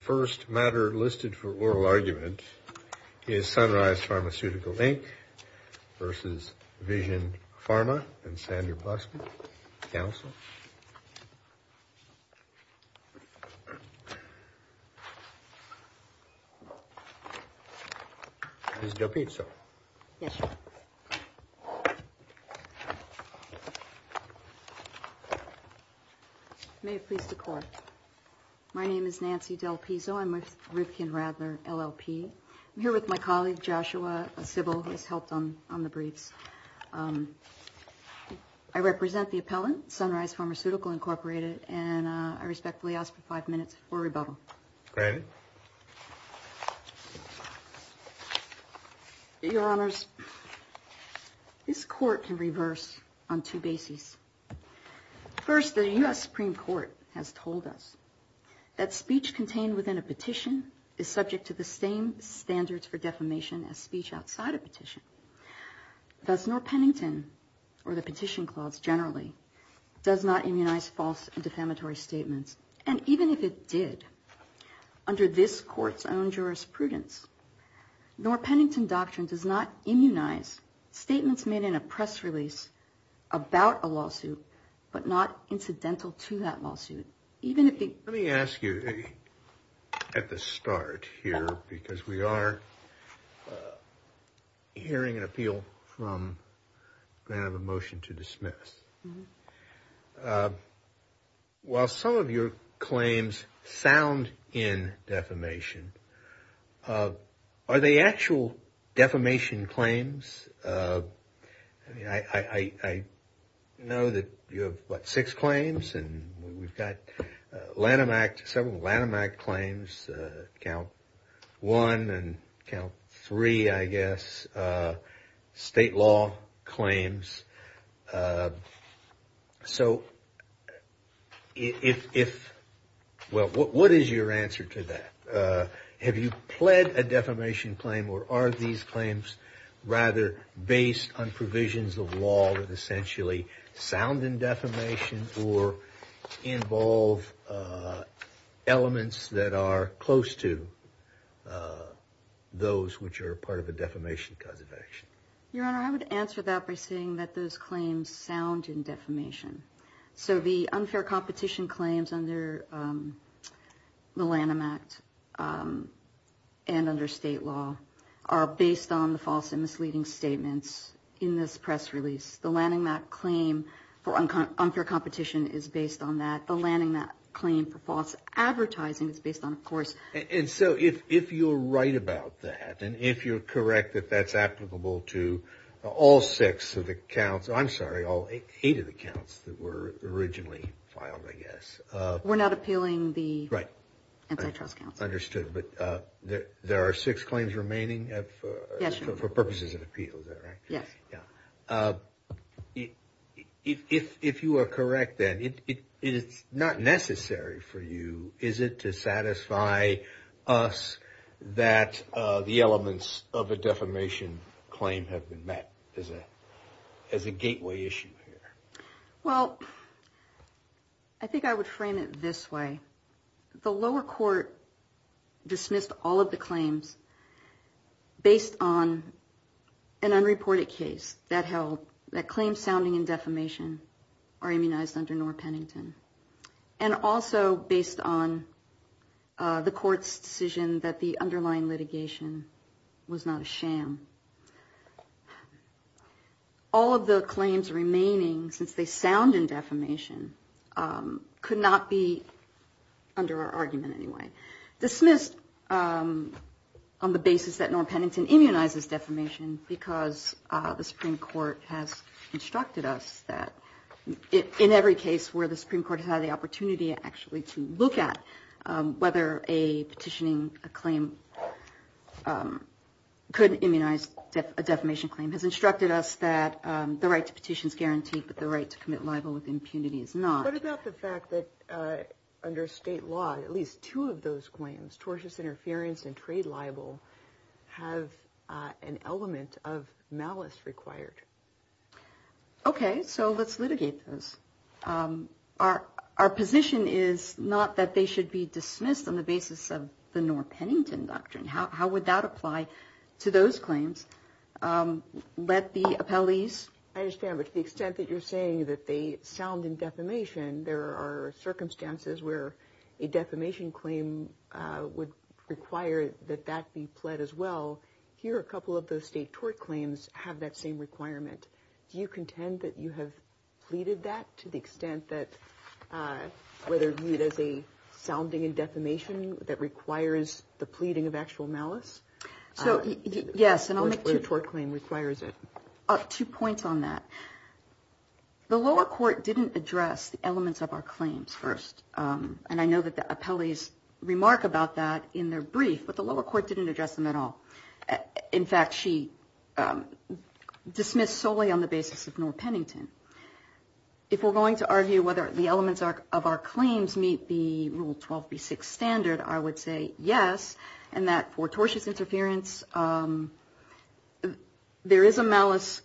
First matter listed for oral argument is Sunrise Pharmaceutical Inc. versus Vision Pharma and Sandra Buxman, counsel. Del Pizzo, may it please the court. My name is Nancy Del Pizzo. I'm with Rivkin Radler, LLP. I'm here with my colleague, Joshua Sybil, who has helped on the briefs. I represent the appellant, Sunrise Pharmaceutical Inc., and I respectfully ask for five minutes for rebuttal. Your Honors, this court can reverse on two bases. First, the U.S. Supreme Court has told us that speech contained within a petition is subject to the same standards for defamation as speech outside a petition. Thus, nor Pennington, or the petition clause generally, does not immunize false and defamatory statements. And even if it did, under this court's own jurisprudence, nor Pennington doctrine does not immunize statements made in a press release about a lawsuit, but not incidental to that lawsuit. Let me ask you at the start here, because we are hearing an appeal from a motion to dismiss. While some of your claims sound in defamation, are they actual defamation claims? I know that you have, what, six claims? And we've got several Lanham Act claims, count one and count three, I guess, state law claims. So, what is your answer to that? Have you pled a defamation claim, or are these claims rather based on provisions of law that essentially sound in defamation or involve elements that are close to those which are part of a defamation cause of action? Your Honor, I would answer that by saying that those claims sound in defamation. So, the unfair competition claims under the Lanham Act and under state law are based on the false and misleading statements in this press release. The Lanham Act claim for unfair competition is based on that. The Lanham Act claim for false advertising is based on, of course... We're not appealing the Antitrust Council. Understood, but there are six claims remaining for purposes of appeal, is that right? Yes. If you are correct, then, it's not necessary for you, is it, to satisfy us that the elements of a defamation claim have been met as a gateway issue here? Well, I think I would frame it this way. The lower court dismissed all of the claims based on an unreported case that held that claims sounding in defamation are immunized under Norah Pennington, and also based on the court's decision that the underlying litigation was not a sham. All of the claims remaining, since they sound in defamation, could not be, under our argument anyway, dismissed on the basis that Norah Pennington immunizes defamation, because the Supreme Court has instructed us that in every case where the Supreme Court has had the opportunity actually to look at whether a petitioning claim could immunize defamation, has instructed us that the right to petition is guaranteed, but the right to commit libel with impunity is not. What about the fact that under state law, at least two of those claims, tortious interference and trade libel, have an element of malice required? Okay, so let's litigate those. Our position is not that they should be dismissed on the basis of the Norah Pennington doctrine. How would that apply to those claims? Let the appellees... I understand, but to the extent that you're saying that they sound in defamation, there are circumstances where a defamation claim would require that that be pled as well. Here, a couple of those state tort claims have that same requirement. Do you contend that you have pleaded that to the extent that, whether viewed as a sounding in defamation that requires the pleading of actual malice? Yes, and I'll make two points on that. The lower court didn't address the elements of our claims first, and I know that the appellees remark about that in their brief, but the lower court didn't address them at all. In fact, she dismissed solely on the basis of Norah Pennington. If we're going to argue whether the elements of our claims meet the Rule 12b6 standard, I would say yes, and that for tortious interference, there is a malice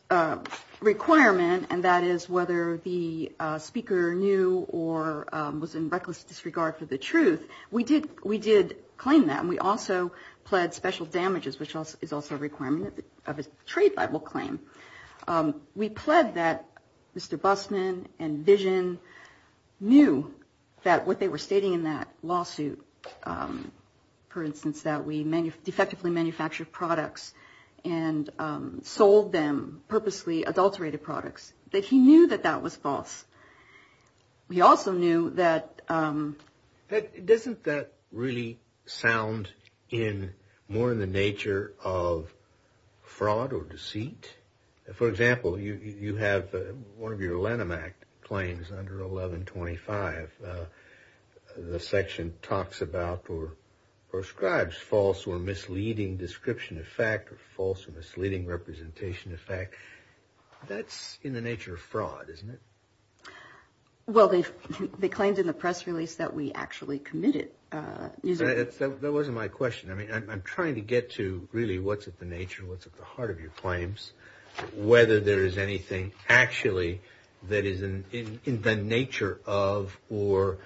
requirement, and that is whether the speaker knew or was in reckless disregard for the truth. We did claim that, and we also pled special damages, which is also a requirement of a trade libel claim. We pled that Mr. Bussman and Vision knew that what they were stating in that lawsuit, for instance, that we defectively manufactured products and sold them purposely adulterated products, that he knew that that was false. He also knew that... Well, they claimed in the press release that we actually committed... That wasn't my question. I mean, I'm trying to get to really what's at the nature and what's at the heart of your claims, whether there is anything actually that is in the nature of or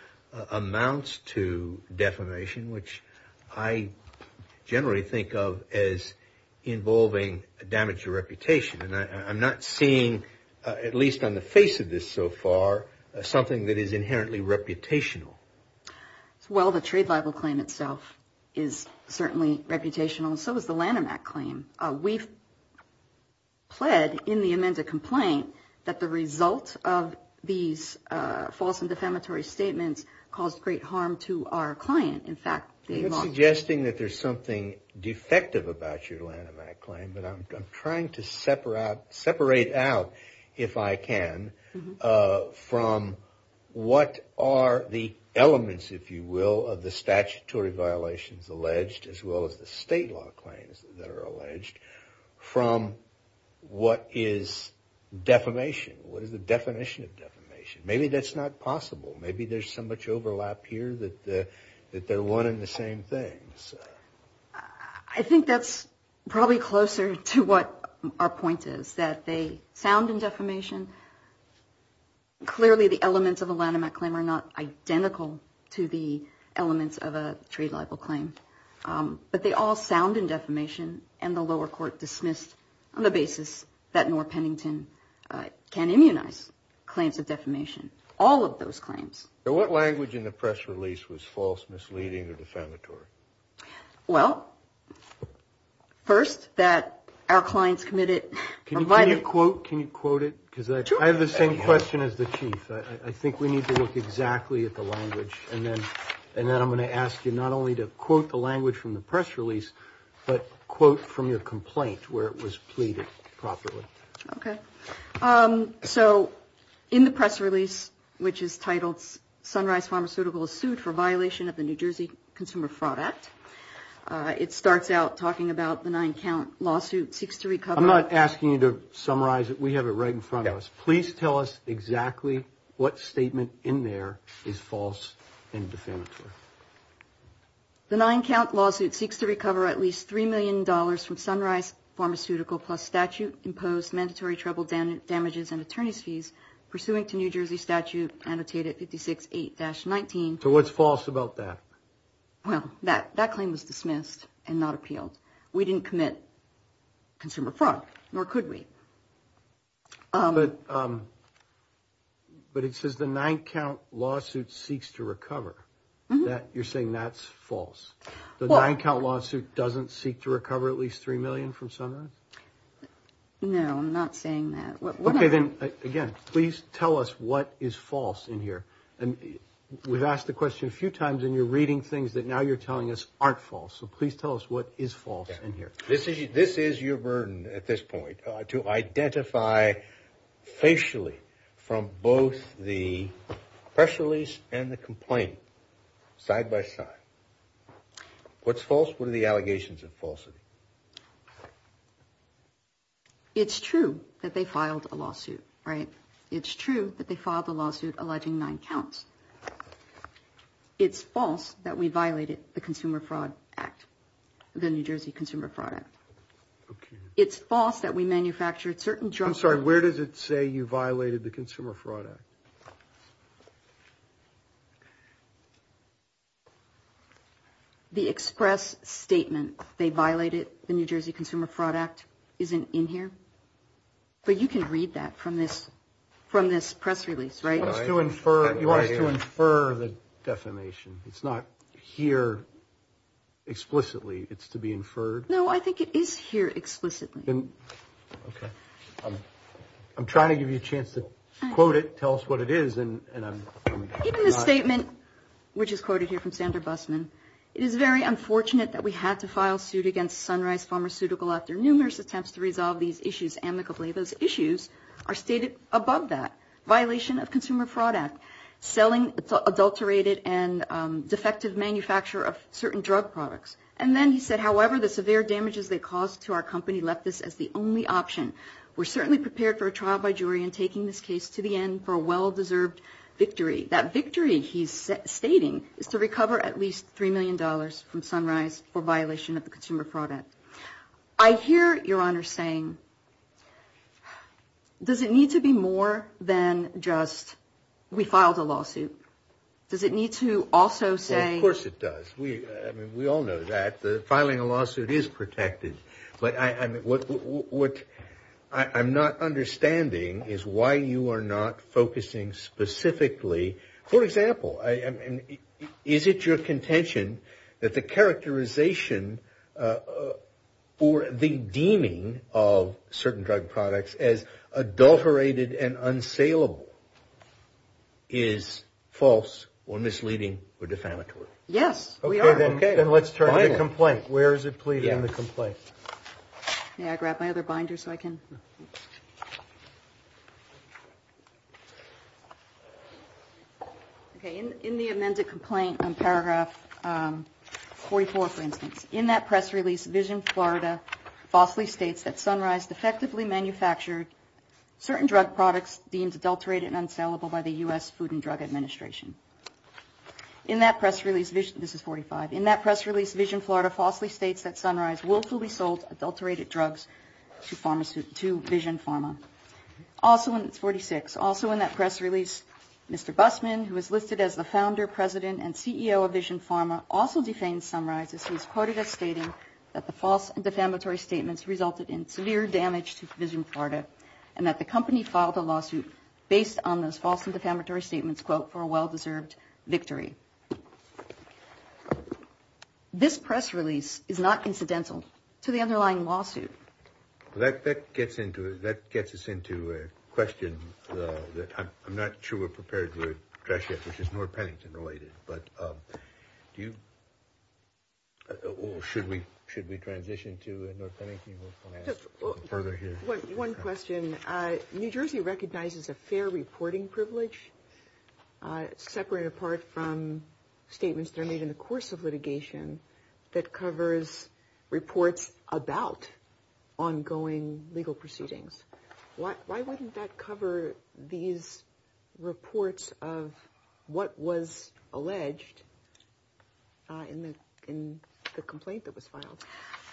amounts to defamation, which I generally think of as involving damage to reputation. And I'm not seeing, at least on the face of this so far, something that is inherently reputational. Well, the trade libel claim itself is certainly reputational, and so is the Lanham Act claim. We've pled in the amended complaint that the result of these false and defamatory statements caused great harm to our client. In fact... I'm not suggesting that there's something defective about your Lanham Act claim, but I'm trying to separate out, if I can, from what are the elements, if you will, of the statutory violations alleged, as well as the state law claims that are alleged, from what is defamation. What is the definition of defamation? Maybe that's not possible. Maybe there's so much overlap here that they're one and the same thing. I think that's probably closer to what our point is, that they sound in defamation. Clearly, the elements of a Lanham Act claim are not identical to the elements of a trade libel claim. But they all sound in defamation, and the lower court dismissed on the basis that Noor Pennington can immunize claims of defamation. All of those claims. So what language in the press release was false, misleading, or defamatory? Well, first, that our clients committed... Can you quote it? Because I have the same question as the Chief. I think we need to look exactly at the language. And then I'm going to ask you not only to quote the language from the press release, but quote from your complaint, where it was pleaded properly. Okay. So in the press release, which is titled, Sunrise Pharmaceuticals Sued for Violation of the New Jersey Consumer Fraud Act, it starts out talking about the nine-count lawsuit, seeks to recover... I'm not asking you to summarize it. We have it right in front of us. Please tell us exactly what statement in there is false and defamatory. The nine-count lawsuit seeks to recover at least $3 million from Sunrise Pharmaceuticals, plus statute-imposed mandatory trouble damages and attorney's fees, pursuing to New Jersey statute, annotated 56-8-19. So what's false about that? Well, nor could we. But it says the nine-count lawsuit seeks to recover. You're saying that's false? The nine-count lawsuit doesn't seek to recover at least $3 million from Sunrise? No, I'm not saying that. Okay, then, again, please tell us what is false in here. We've asked the question a few times, and you're reading things that now you're telling us aren't false. So please tell us what is false in here. This is your burden at this point, to identify facially from both the press release and the complaint, side by side. What's false? What are the allegations of falsity? It's true that they filed a lawsuit, right? It's true that they filed a lawsuit alleging nine counts. It's false that we violated the Consumer Fraud Act, the New Jersey Consumer Fraud Act. It's false that we manufactured certain drugs. I'm sorry, where does it say you violated the Consumer Fraud Act? The express statement, they violated the New Jersey Consumer Fraud Act, isn't in here. But you can read that from this press release, right? You want us to infer the defamation. It's not here explicitly. It's to be inferred? No, I think it is here explicitly. I'm trying to give you a chance to quote it, tell us what it is. In the statement, which is quoted here from Sandra Bussman, it is very unfortunate that we had to file suit against Sunrise Pharmaceutical after numerous attempts to resolve these issues. These issues are stated above that, violation of Consumer Fraud Act, selling adulterated and defective manufacture of certain drug products. And then he said, however, the severe damages they caused to our company left us as the only option. We're certainly prepared for a trial by jury in taking this case to the end for a well-deserved victory. That victory, he's stating, is to recover at least three million dollars from Sunrise for violation of the Consumer Fraud Act. I hear, Your Honor, saying, does it need to be more than just we filed a lawsuit? Does it need to also say... Of course it does. We all know that. Filing a lawsuit is protected. But what I'm not understanding is why you are not focusing specifically, for example, is it your contention that the characterization or the deeming of certain drug products as adulterated and unsaleable is false or misleading or defamatory? Yes, we are. Okay, then let's turn to the complaint. Where is it pleading in the complaint? In the amended complaint on paragraph 44, for instance. In that press release, Vision Florida falsely states that Sunrise defectively manufactured certain drug products deemed adulterated and unsaleable by the U.S. Food and Drug Administration. In that press release, Vision Florida falsely states that Sunrise willfully sold adulterated drugs to Vision Pharma. Also in that press release, Mr. Busman, who is listed as the founder, president and CEO of Vision Pharma, also defames Sunrise as he's quoted as stating that the false and defamatory statements resulted in severe damage to Vision Florida and that the company filed a lawsuit based on those false and defamatory statements, quote, for a well-deserved victory. This press release is not incidental to the underlying lawsuit. That gets us into a question that I'm not sure we're prepared to address yet, which is North Pennington-related. Should we transition to North Pennington? One question. New Jersey recognizes a fair reporting privilege, separate and apart from statements that are made in the course of litigation, that covers reports about the company. Why wouldn't that cover these reports of what was alleged in the complaint that was filed?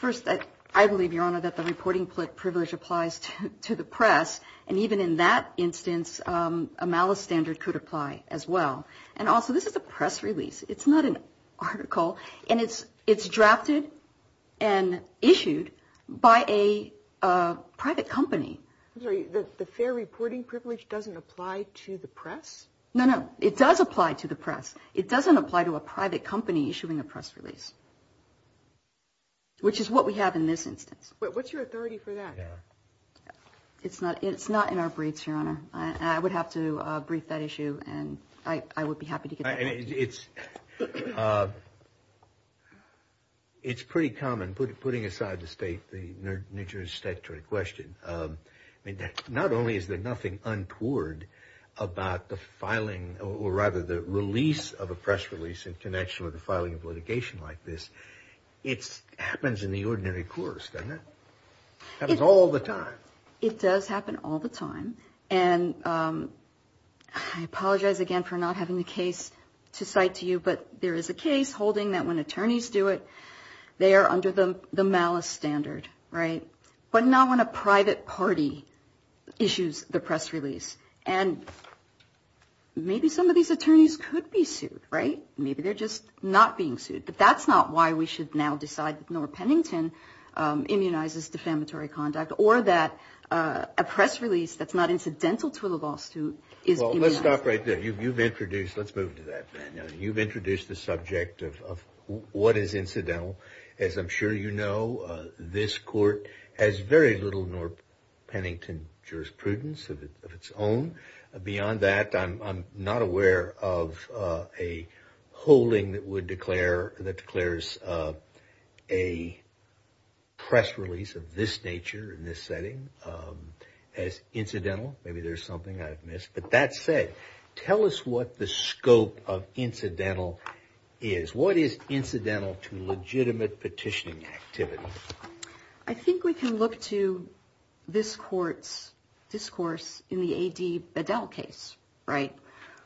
First, I believe, Your Honor, that the reporting privilege applies to the press. And even in that instance, a malice standard could apply as well. And also this is a press release. It's not an article, and it's drafted and issued by a private company. I'm sorry, the fair reporting privilege doesn't apply to the press? No, no, it does apply to the press. It doesn't apply to a private company issuing a press release, which is what we have in this instance. What's your authority for that? It's not in our briefs, Your Honor, and I would have to brief that issue, and I would be happy to get back to you. It's pretty common, putting aside the state, the New Jersey statutory question. Not only is there nothing untoward about the filing, or rather the release of a press release in connection with the filing of litigation like this, it happens in the ordinary course, doesn't it? It happens all the time. It does happen all the time, and I apologize again for not having the case to cite to you, but there is a case holding that when attorneys do it, they are under the malice standard, right? But not when a private party issues the press release. And maybe some of these attorneys could be sued, right? Maybe they're just not being sued. But that's not why we should now decide that Norr Pennington immunizes defamatory conduct, or that a press release that's not incidental to a lawsuit is immunized. Well, let's stop right there. You've introduced the subject of what is incidental. As I'm sure you know, this Court has very little Norr Pennington jurisprudence of its own. Beyond that, I'm not aware of a holding that declares a press release of this nature in this setting as incidental. Maybe there's something I've missed. But that said, tell us what the scope of incidental is. What is incidental to legitimate petitioning activity? I think we can look to this Court's discourse in the A.D. Bedell case, right?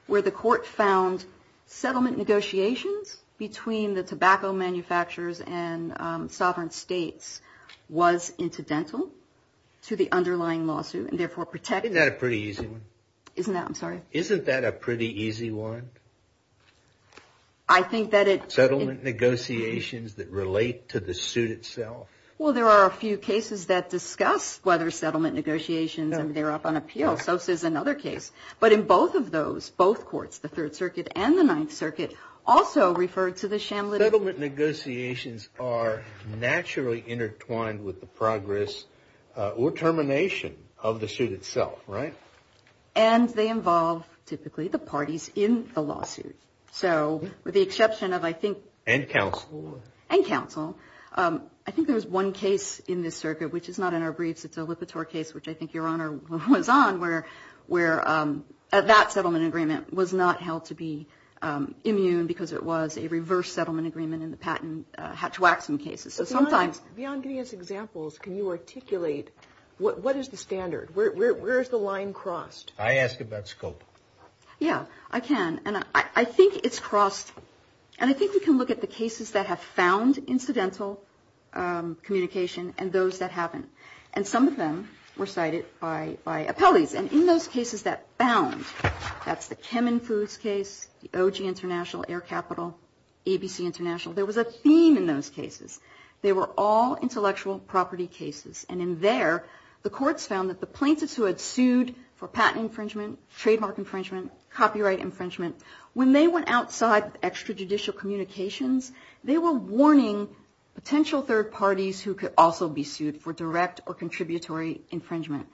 Where the Court found settlement negotiations between the tobacco manufacturers and sovereign states was incidental to the underlying lawsuit. Isn't that a pretty easy one? Settlement negotiations that relate to the suit itself? Well, there are a few cases that discuss whether settlement negotiations and they're up on appeal. So is another case. But in both of those, both courts, the Third Circuit and the Ninth Circuit, also referred to the sham litigation. Settlement negotiations are naturally intertwined with the progress or termination of the suit itself, right? And they involve typically the parties in the lawsuit. So with the exception of, I think... And counsel. And counsel. I think there was one case in this circuit, which is not in our briefs, it's a Lipitor case, which I think Your Honor was on, where that settlement agreement was not held to be immune because it was a reverse settlement agreement in the patent Hatch-Waxman cases. So sometimes... Beyond giving us examples, can you articulate what is the standard? Where is the line crossed? I ask about scope. Yeah, I can. And I think it's crossed. And I think we can look at the cases that have found incidental communication and those that haven't. And some of them were cited by appellees. And in those cases that found, that's the Kemmen Foods case, the OG International, Air Capital, ABC International, there was a theme in those cases. They were all intellectual property cases. And in there, the courts found that the plaintiffs who had sued for patent infringement, trademark infringement, copyright infringement, when they went outside extrajudicial communications, they were warning potential third parties who could also be sued for direct or contributory infringement.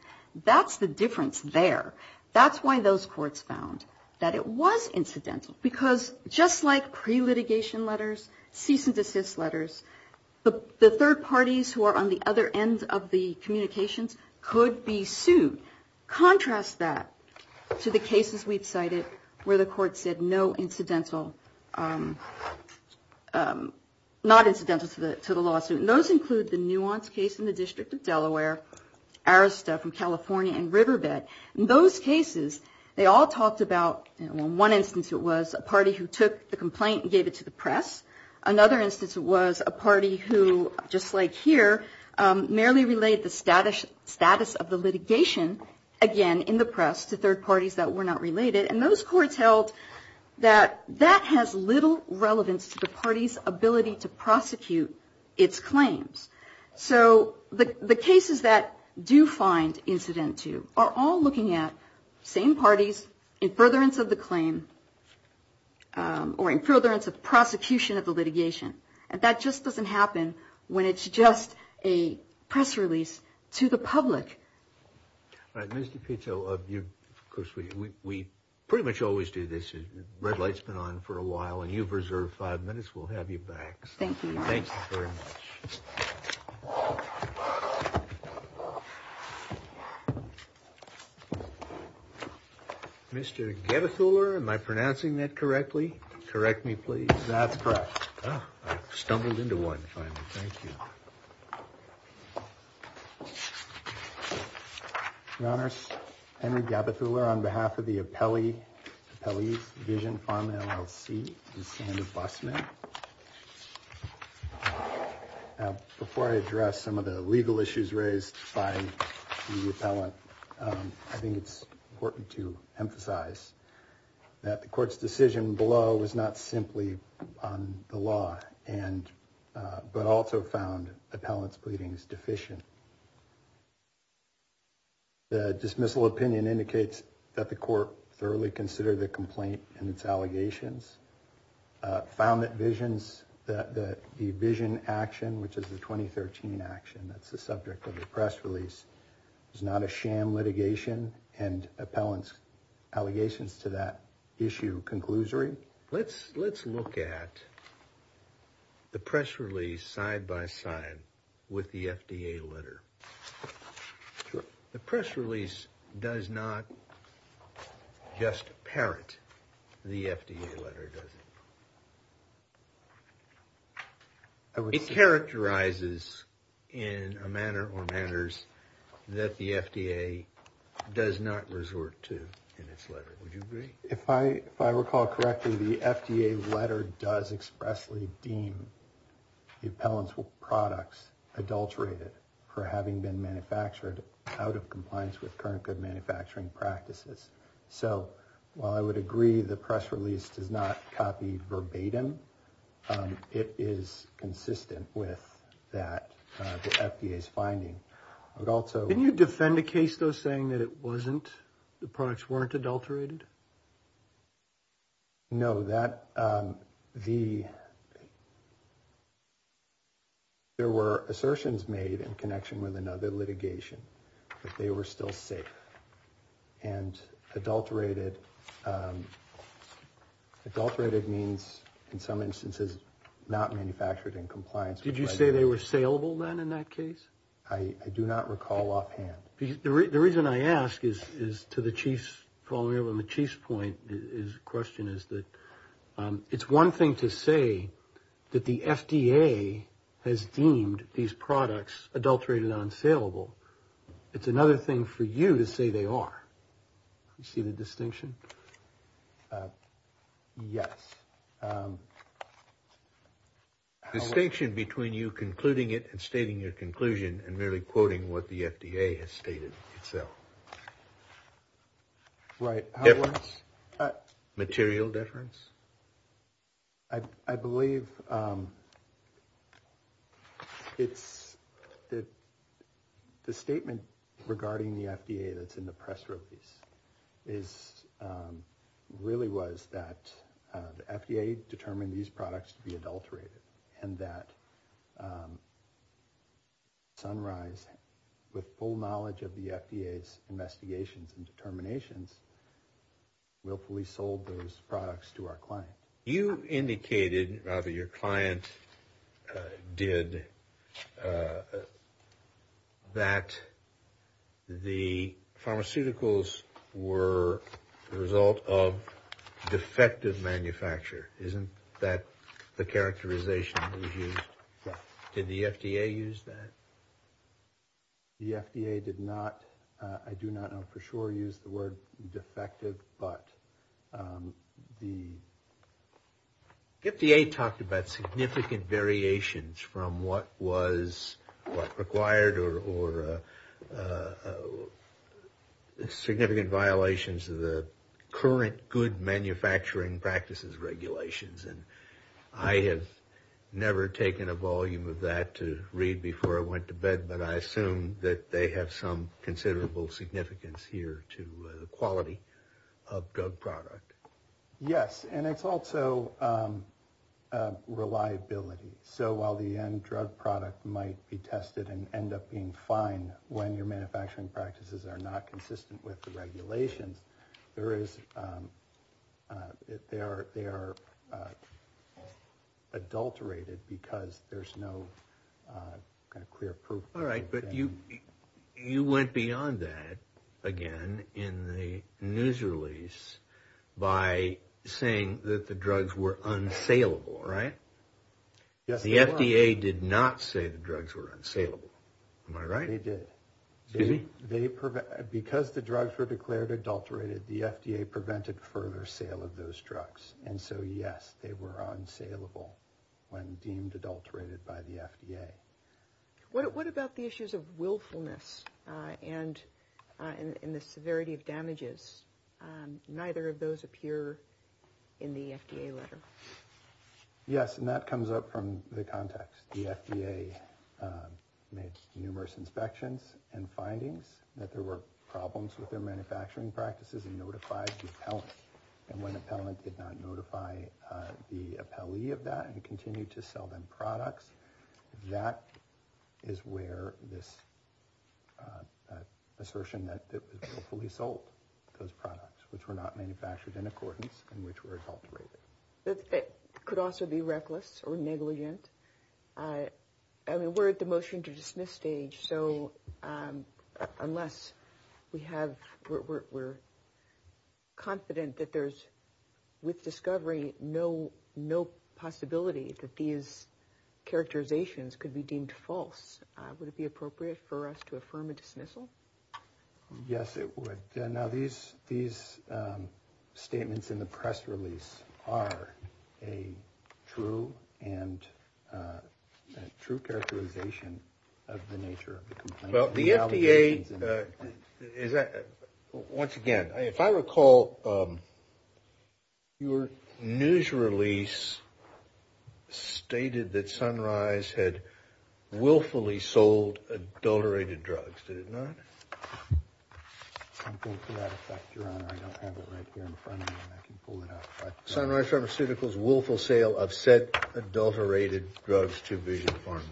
That's the difference there. That's why those courts found that it was incidental. Because just like pre-litigation letters, cease and desist letters, the third parties who are on the other end of the communications could be sued. Contrast that to the cases we've cited where the court said no incidental, not incidental to the lawsuit. And those include the Nuance case in the District of Delaware, Arista from California, and Riverbed. In those cases, they all talked about, in one instance it was a party who took the complaint and gave it to the press. Another instance it was a party who, just like here, merely relayed the status of the litigation, again, in the press to third parties that were not related. And those courts held that that has little relevance to the party's ability to prosecute its claim. So the cases that do find incident to are all looking at same parties, in furtherance of the claim, or in furtherance of prosecution of the litigation. And that just doesn't happen when it's just a press release to the public. All right, Ms. DiPietro, of course, we pretty much always do this. Red light's been on for a while, and you've reserved five minutes. We'll have you back. Mr. Gabethuller, am I pronouncing that correctly? Correct me, please. That's correct. I've stumbled into one, finally. Thank you. Your Honors, Henry Gabethuller, on behalf of the appellee's division, Farm and LLC, and Sandra Busman. Before I address some of the legal issues raised by the appellant, I think it's important to emphasize that the court's decision below was not simply on the law, but also found appellant's pleadings deficient. The dismissal opinion indicates that the court thoroughly considered the complaint and its allegations, found that the division action, which is the 2013 action, that's the subject of the press release, is not a sham litigation, and appellant's allegations to that issue conclusory. Let's look at the press release side by side with the FDA letter. The press release does not just parent the FDA letter, does it? It characterizes in a manner or manners that the FDA does not resort to in its letter. Would you agree? If I recall correctly, the FDA letter does expressly deem the appellant's products adulterated for having been manufactured out of compliance with current good manufacturing practices. So while I would agree the press release does not copy verbatim, it is consistent with that, the FDA's finding. Can you defend a case, though, saying that it wasn't, the products weren't adulterated? No. There were assertions made in connection with another litigation that they were still safe. And adulterated means, in some instances, not manufactured in compliance. Did you say they were saleable, then, in that case? I do not recall offhand. The reason I ask is to the chief's point, his question is that it's one thing to say that the FDA has deemed these products adulterated and unsaleable. It's another thing for you to say they are. You see the distinction? Between you concluding it and stating your conclusion and merely quoting what the FDA has stated itself. Right. Material deference? I believe it's the statement regarding the FDA that's in the press release is really was that the FDA determined these products to be adulterated. And that Sunrise, with full knowledge of the FDA's investigations and determinations, willfully sold those products to our client. You indicated, rather your client did, that the pharmaceuticals were the result of defective manufacture. Isn't that the characterization that was used? Did the FDA use that? The FDA did not. I do not know for sure use the word defective, but the FDA talked about significant variations from what was required or significant violations of the current good manufacturing practices regulations. And I have never taken a volume of that to read before I went to bed. But I assume that they have some considerable significance here to the quality of drug product. Yes. And it's also reliability. So while the end drug product might be tested and end up being fine when your manufacturing practices are not consistent with the regulations. But the FDA did not say that the drugs were adulterated because there's no clear proof. All right. But you went beyond that again in the news release by saying that the drugs were unsaleable, right? Yes, they were. The FDA did not say the drugs were unsaleable. Am I right? Because the drugs were declared adulterated, the FDA prevented further sale of those drugs. And so, yes, they were unsaleable when deemed adulterated by the FDA. What about the issues of willfulness and the severity of damages? Neither of those appear in the FDA letter. Yes. And that comes up from the context. The FDA made numerous inspections and findings that there were problems with their manufacturing practices and notified the appellant. And when the appellant did not notify the appellee of that and continue to sell them products, that is where this assertion that it was fully sold, those products which were not manufactured in accordance and which were adulterated. That could also be reckless or negligent. I mean, we're at the motion to dismiss stage. So unless we have we're confident that there's with discovery, no, no possibility that these characterizations could be deemed false. Would it be appropriate for us to affirm a dismissal? Yes, it would. Now, these statements in the press release are a true characterization of the nature of the complaint. Well, the FDA, once again, if I recall, your news release stated that Sunrise had willfully sold adulterated drugs, did it not? To that effect, Your Honor, I don't have it right here in front of me and I can pull it out. Sunrise Pharmaceuticals willful sale of said adulterated drugs to Vision Pharma.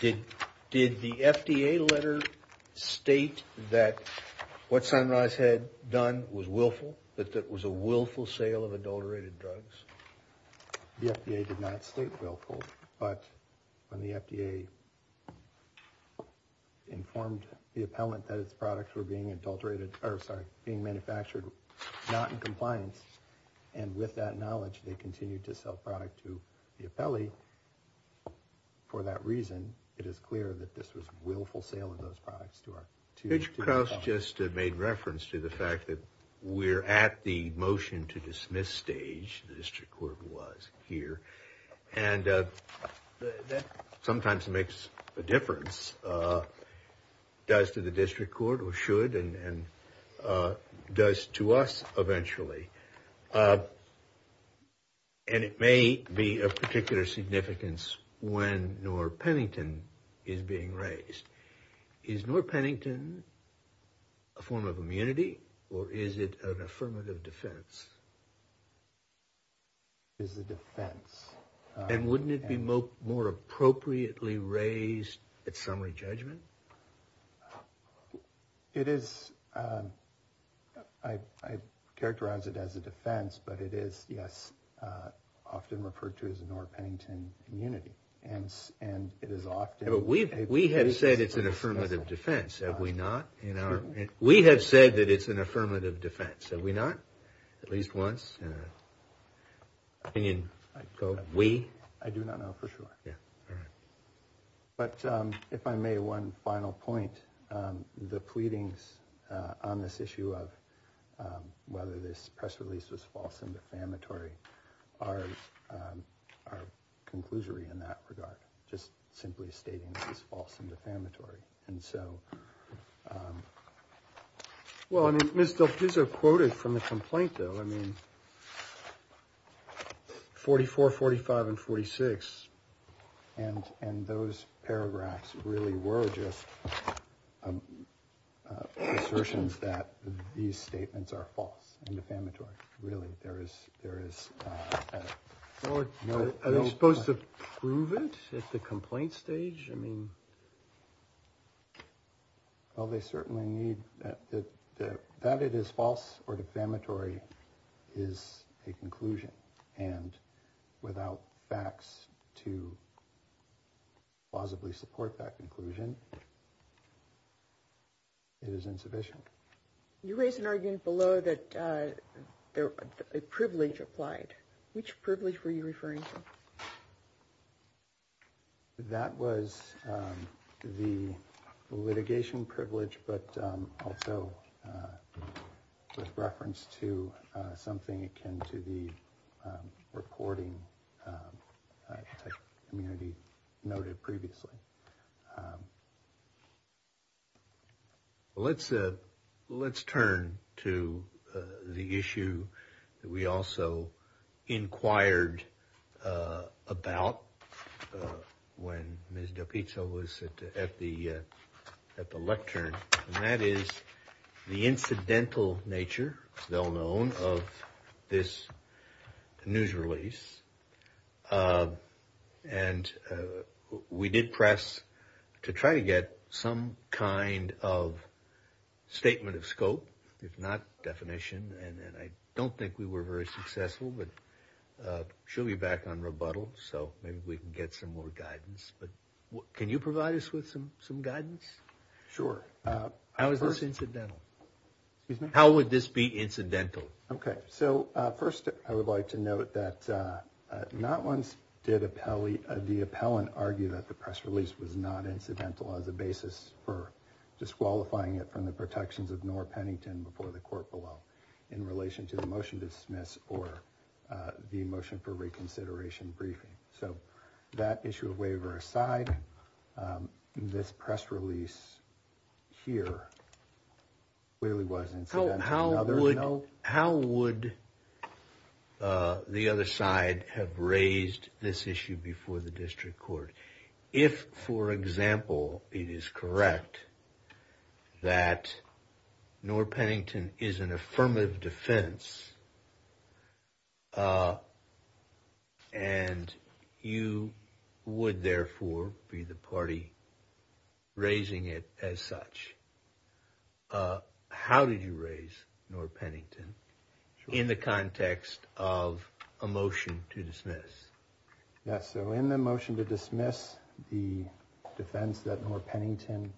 Did the FDA letter state that what Sunrise had done was willful, that it was a willful sale of adulterated drugs? The FDA did not state willful, but when the FDA informed the appellant that its products were being adulterated or sorry, being manufactured, not in compliance. And with that knowledge, they continued to sell product to the appellee. For that reason, it is clear that this was a willful sale of those products to our two. Judge Krauss just made reference to the fact that we're at the motion to dismiss stage. The district court was here and that sometimes makes a difference, does to the district court or should and does to us eventually. And it may be of particular significance when Norr Pennington is being raised. Is Norr Pennington a form of immunity or is it an affirmative defense? It is a defense. And wouldn't it be more appropriately raised at summary judgment? It is. I characterize it as a defense, but it is, yes, often referred to as a Norr Pennington immunity. We have said it's an affirmative defense. Have we not? We have said that it's an affirmative defense. Have we not? At least once. We? I do not know for sure. But if I may, one final point. The pleadings on this issue of whether this press release was false and defamatory are conclusory in that regard. Just simply stating it was false and defamatory. Ms. DelPizzo quoted from the complaint, though, 44, 45, and 46, and those paragraphs really were just assertions that these statements are false and defamatory. Really, there is no... Are they supposed to prove it at the complaint stage? Well, they certainly need... That it is false or defamatory is a conclusion. And without facts to plausibly support that conclusion, it is insufficient. You raised an argument below that a privilege applied. Which privilege were you referring to? That was the litigation privilege, but also with reference to something akin to the reporting type immunity noted previously. Let's turn to the issue that we also inquired about when Ms. DelPizzo was at the court. And that is the incidental nature, it's well known, of this news release. And we did press to try to get some kind of statement of scope, if not definition. And I don't think we were very successful, but she'll be back on rebuttal. So maybe we can get some more guidance. Can you provide us with some guidance? Sure. How is this incidental? How would this be incidental? Okay, so first I would like to note that not once did the appellant argue that the press release was not incidental as a basis for disqualifying it from the protections of Nora Pennington before the court below. In relation to the motion to dismiss or the motion for reconsideration briefing. So that issue of waiver aside, this press release here really was incidental. How would the other side have raised this issue before the district court? If, for example, it is correct that Nora Pennington is an affirmative defense, and you would therefore be the party raising it as such. How did you raise Nora Pennington in the context of a motion to dismiss? Yes, so in the motion to dismiss the defense that Nora Pennington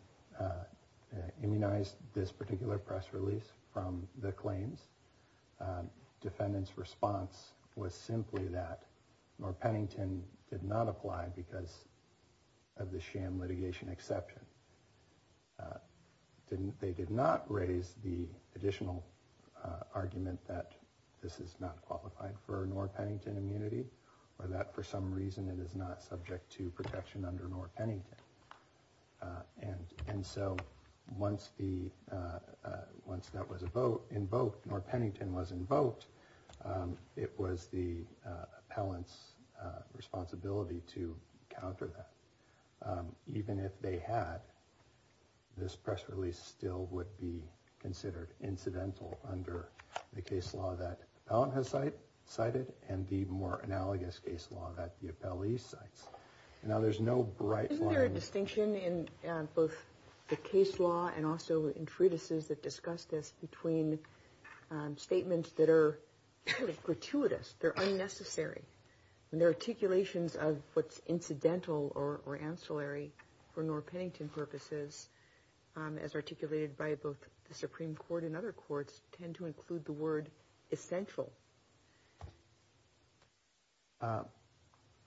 immunized this particular press release from the claims, defendant's response was simply that Nora Pennington did not apply because of the sham litigation exception. They did not raise the additional argument that this is not qualified for Nora Pennington immunity, or that for some reason it is not subject to protection under Nora Pennington. And so once that was invoked, Nora Pennington was invoked, it was the appellant's responsibility to counter that. Even if they had, this press release still would be considered incidental under the case law that the appellant has cited, and the more analogous case law that the appellee cites. Now there's no bright line. Isn't there a distinction in both the case law and also in treatises that discuss this between statements that are gratuitous, they're unnecessary, and their articulations of what's incidental or ancillary for Nora Pennington purposes, as articulated by both the Supreme Court and other courts, tend to include the word essential.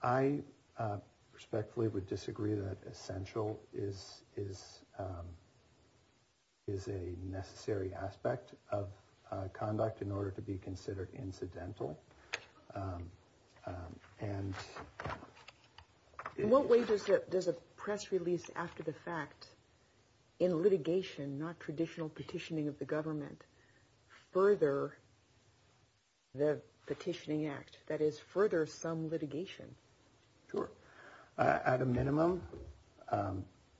I respectfully would disagree that essential is a necessary aspect of conduct in order to be In what way does a press release after the fact in litigation, not traditional petitioning of the government, further the petitioning act? That is, further some litigation? Sure. At a minimum,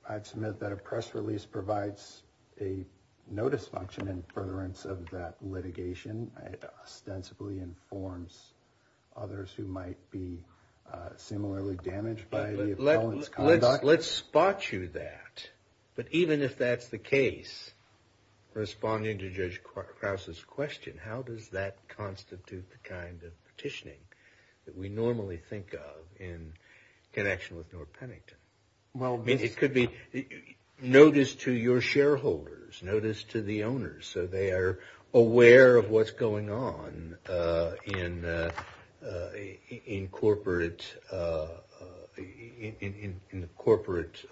I'd submit that a press release provides a notice function in furtherance of that litigation. It ostensibly informs others who might be similarly damaged by the appellant's conduct. Let's spot you that. But even if that's the case, responding to Judge Krause's question, how does that constitute the kind of petitioning that we normally think of in connection with Nora Pennington? It could be notice to your shareholders, notice to the owners, so they are aware of what's going on in corporate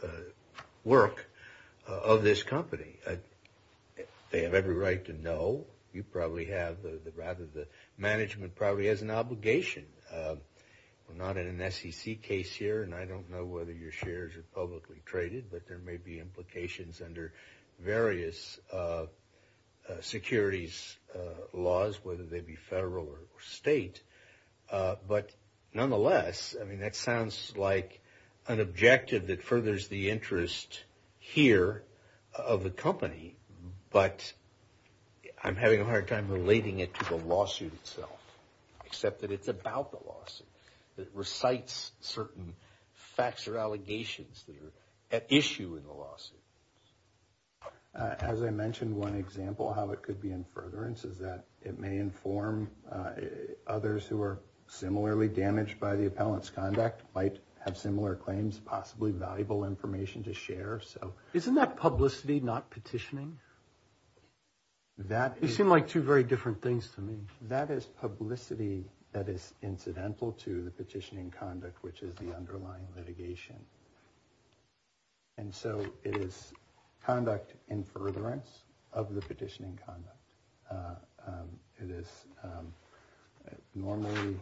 work of this company. They have every right to know. You probably have, rather the management probably has an obligation. We're not in an SEC case here, and I don't know whether your shares are publicly traded, but there may be implications under various securities laws, whether they be federal or state. But nonetheless, I mean, that sounds like an objective that furthers the interest here of the company. But I'm having a hard time relating it to the lawsuit itself, except that it's about the lawsuit. It recites certain facts or allegations that are at issue in the lawsuit. As I mentioned, one example of how it could be in furtherance is that it may inform others who are similarly damaged by the appellant's conduct, might have similar claims, possibly valuable information to share. Isn't that publicity, not petitioning? They seem like two very different things to me. That is publicity that is incidental to the petitioning conduct, which is the underlying litigation. And so it is conduct in furtherance of the petitioning conduct. It is normally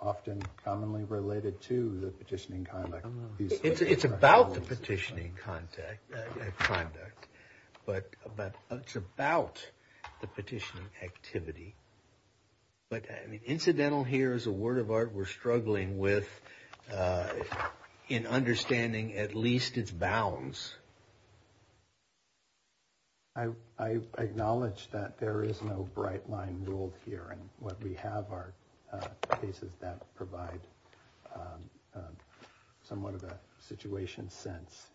often commonly related to the petitioning conduct. It's about the petitioning conduct, but it's about the petitioning activity. But incidental here is a word of art we're struggling with in understanding at least its bounds. I acknowledge that there is no bright line rule here, and what we have are cases that provide somewhat of a situation sense.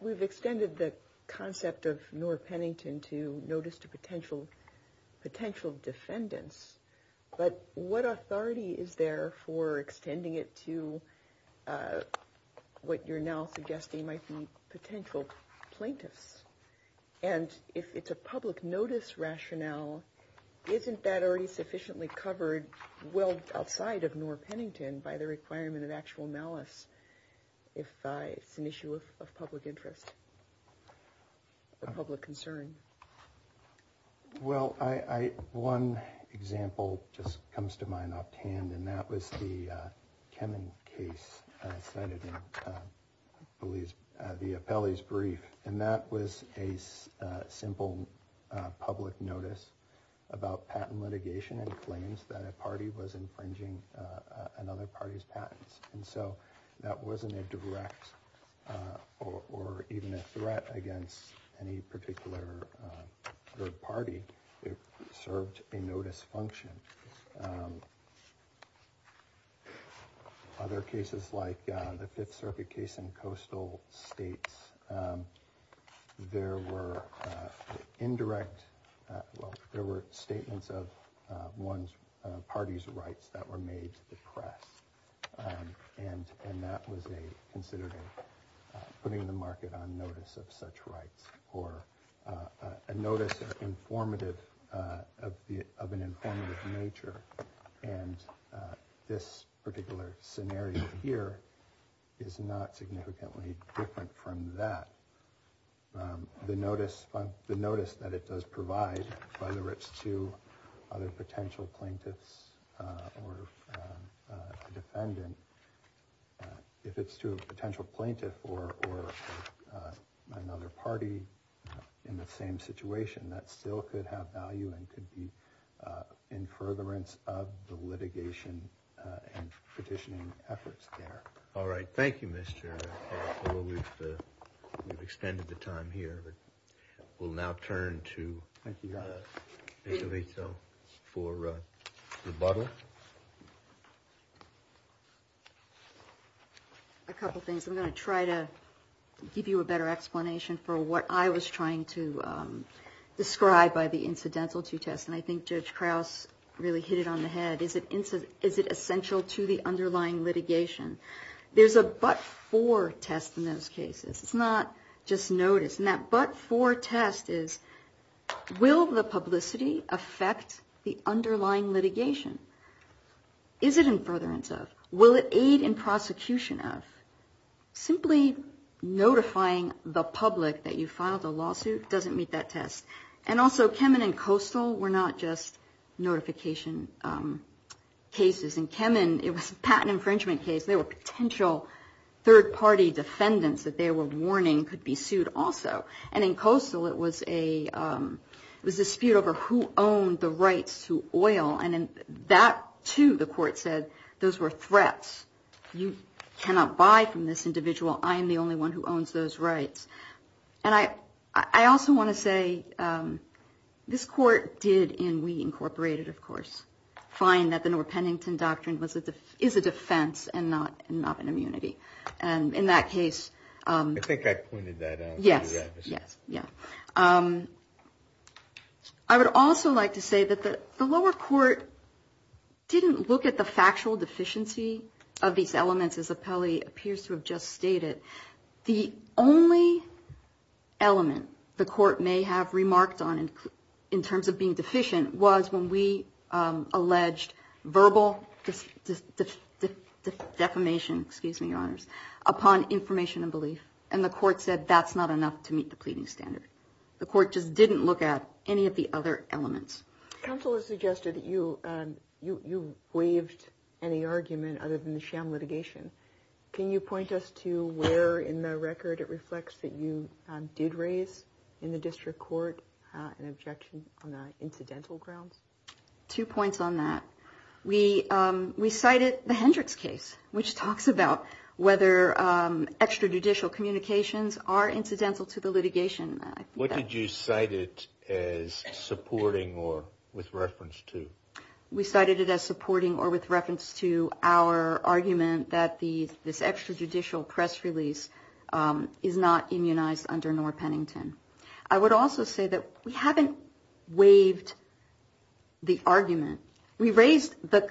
We've extended the concept of Noor Pennington to notice to potential defendants, but what authority is there for extending it to what you're now calling public notice rationale? Isn't that already sufficiently covered well outside of Noor Pennington by the requirement of actual malice if it's an issue of public interest or public concern? Well, one example just comes to mind offhand, and that was the Kemen case cited in, I believe, the appellee's brief. And that was a simple public notice about patent litigation and claims that a party was infringing another party's patents. And so that wasn't a direct or even a threat against any particular third party. It served a notice function. Other cases like the Fifth Circuit case in coastal states, there were indirect, well, there were statements of one's party's rights that were made to the press. And that was considered putting the market on notice of such rights or a notice of an informative nature. And this particular scenario here is not significantly different from that. The notice that it does provide, whether it's to other potential plaintiffs in the same situation, that still could have value and could be in furtherance of the litigation and petitioning efforts there. All right. Thank you, Mr. Carroll. We've extended the time here, but we'll now turn to Ms. Alito for rebuttal. A couple things. I'm going to try to give you a better explanation for what I was trying to describe by the incidental to test. And I think Judge Krause really hit it on the head. Is it essential to the underlying litigation? There's a but-for test in those cases. It's not just notice. And that but-for test is will the publicity affect the underlying litigation? Is it in furtherance of? Will it aid in prosecution of? Simply notifying the public that you filed a lawsuit doesn't meet that test. And also, Kemen and Coastal were not just notification cases. In Kemen, it was a patent infringement case. There were potential third-party defendants that they were warning could be sued also. And in Coastal, it was a dispute over who owned the rights to oil. And in that, too, the court said, those were threats. You cannot buy from this individual. I am the only one who owns those rights. And I also want to say, this court did, and we incorporated, of course, find that the North Pennington Doctrine is a defense and not an immunity. And in that case... I would also like to say that the lower court didn't look at the factual deficiency of these elements, as Appelli appears to have just stated. The only element the court may have remarked on in terms of being deficient was when we alleged verbal defamation. And the court said, that's not enough to meet the pleading standard. The court just didn't look at any of the other elements. Counsel has suggested that you waived any argument other than the sham litigation. Can you point us to where in the record it reflects that you did raise in the district court an objection on incidental grounds? Two points on that. We cited the Hendricks case, which talks about whether extrajudicial communications are incidental to the litigation. What did you cite it as supporting or with reference to? We cited it as supporting or with reference to our argument that this extrajudicial press release is not immunized under North Pennington. I would also say that we haven't waived the argument. We raised the...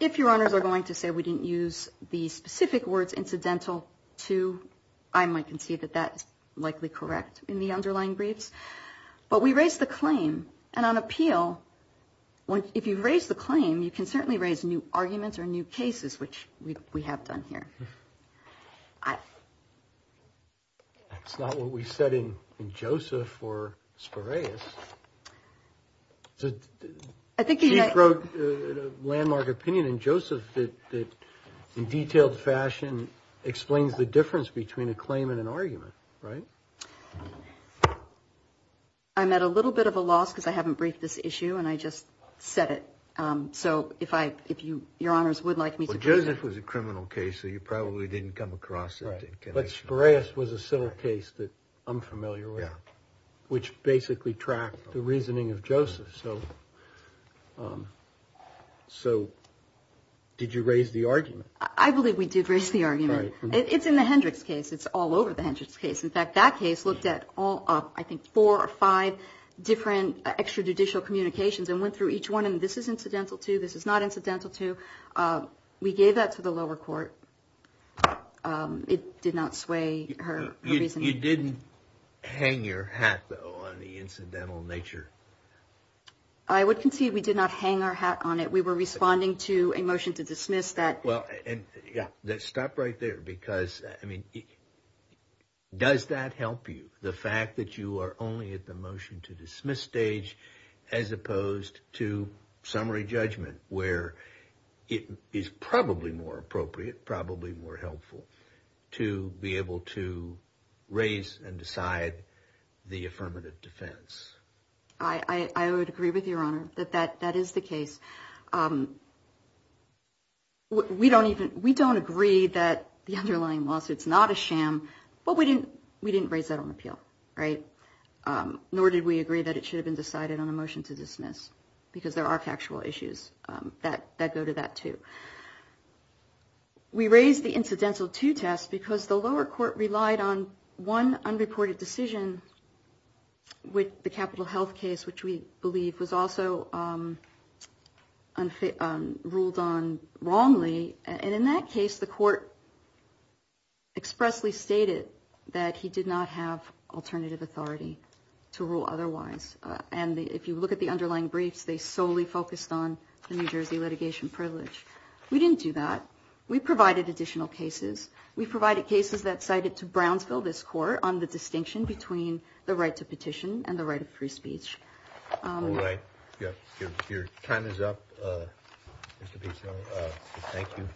If your honors are going to say we didn't use the specific words incidental to, I might concede that that's likely correct in the underlying briefs. But we raised the claim. And on appeal, if you raise the claim, you can certainly raise new arguments or new cases, which we have done here. That's not what we said in Joseph or Spiraeus. I think you wrote a landmark opinion in Joseph that in detailed fashion explains the difference between a claim and an argument, right? I'm at a little bit of a loss because I haven't briefed this issue and I just said it. So if your honors would like me to... Joseph was a criminal case, so you probably didn't come across it. But Spiraeus was a civil case that I'm familiar with, which basically tracked the reasoning of Joseph. So did you raise the argument? I believe we did raise the argument. It's in the Hendricks case. It's all over the Hendricks case. In fact, that case looked at all, I think, four or five different extrajudicial communications and went through each one. And this is incidental to, this is not incidental to. We gave that to the lower court. It did not sway her reasoning. You didn't hang your hat, though, on the incidental nature. I would concede we did not hang our hat on it. We were responding to a motion to dismiss that. Well, and stop right there because, I mean, does that help you? The fact that you are only at the motion to dismiss stage as opposed to summary judgment, where it is probably more appropriate, probably more helpful to be able to raise and decide the affirmative defense? I would agree with your honor that that is the case. We don't even, we don't agree that the underlying lawsuit is not a sham, but we didn't raise that on appeal, right? Nor did we agree that it should have been decided on a motion to dismiss, because there are factual issues that go to that, too. We raised the incidental to test because the lower court relied on one unreported decision with the Capital Health case, which we believe was also ruled on wrongly. And in that case, the court expressly stated that he did not have alternative authority to rule otherwise. And if you look at the underlying briefs, they solely focused on the New Jersey litigation privilege. We didn't do that. We provided additional cases. We provided cases that cited to Brownsville, this court, on the distinction between the right to petition and the right of free speech. All right. Your time is up, Mr. Pizzo. Thank you. Thank you.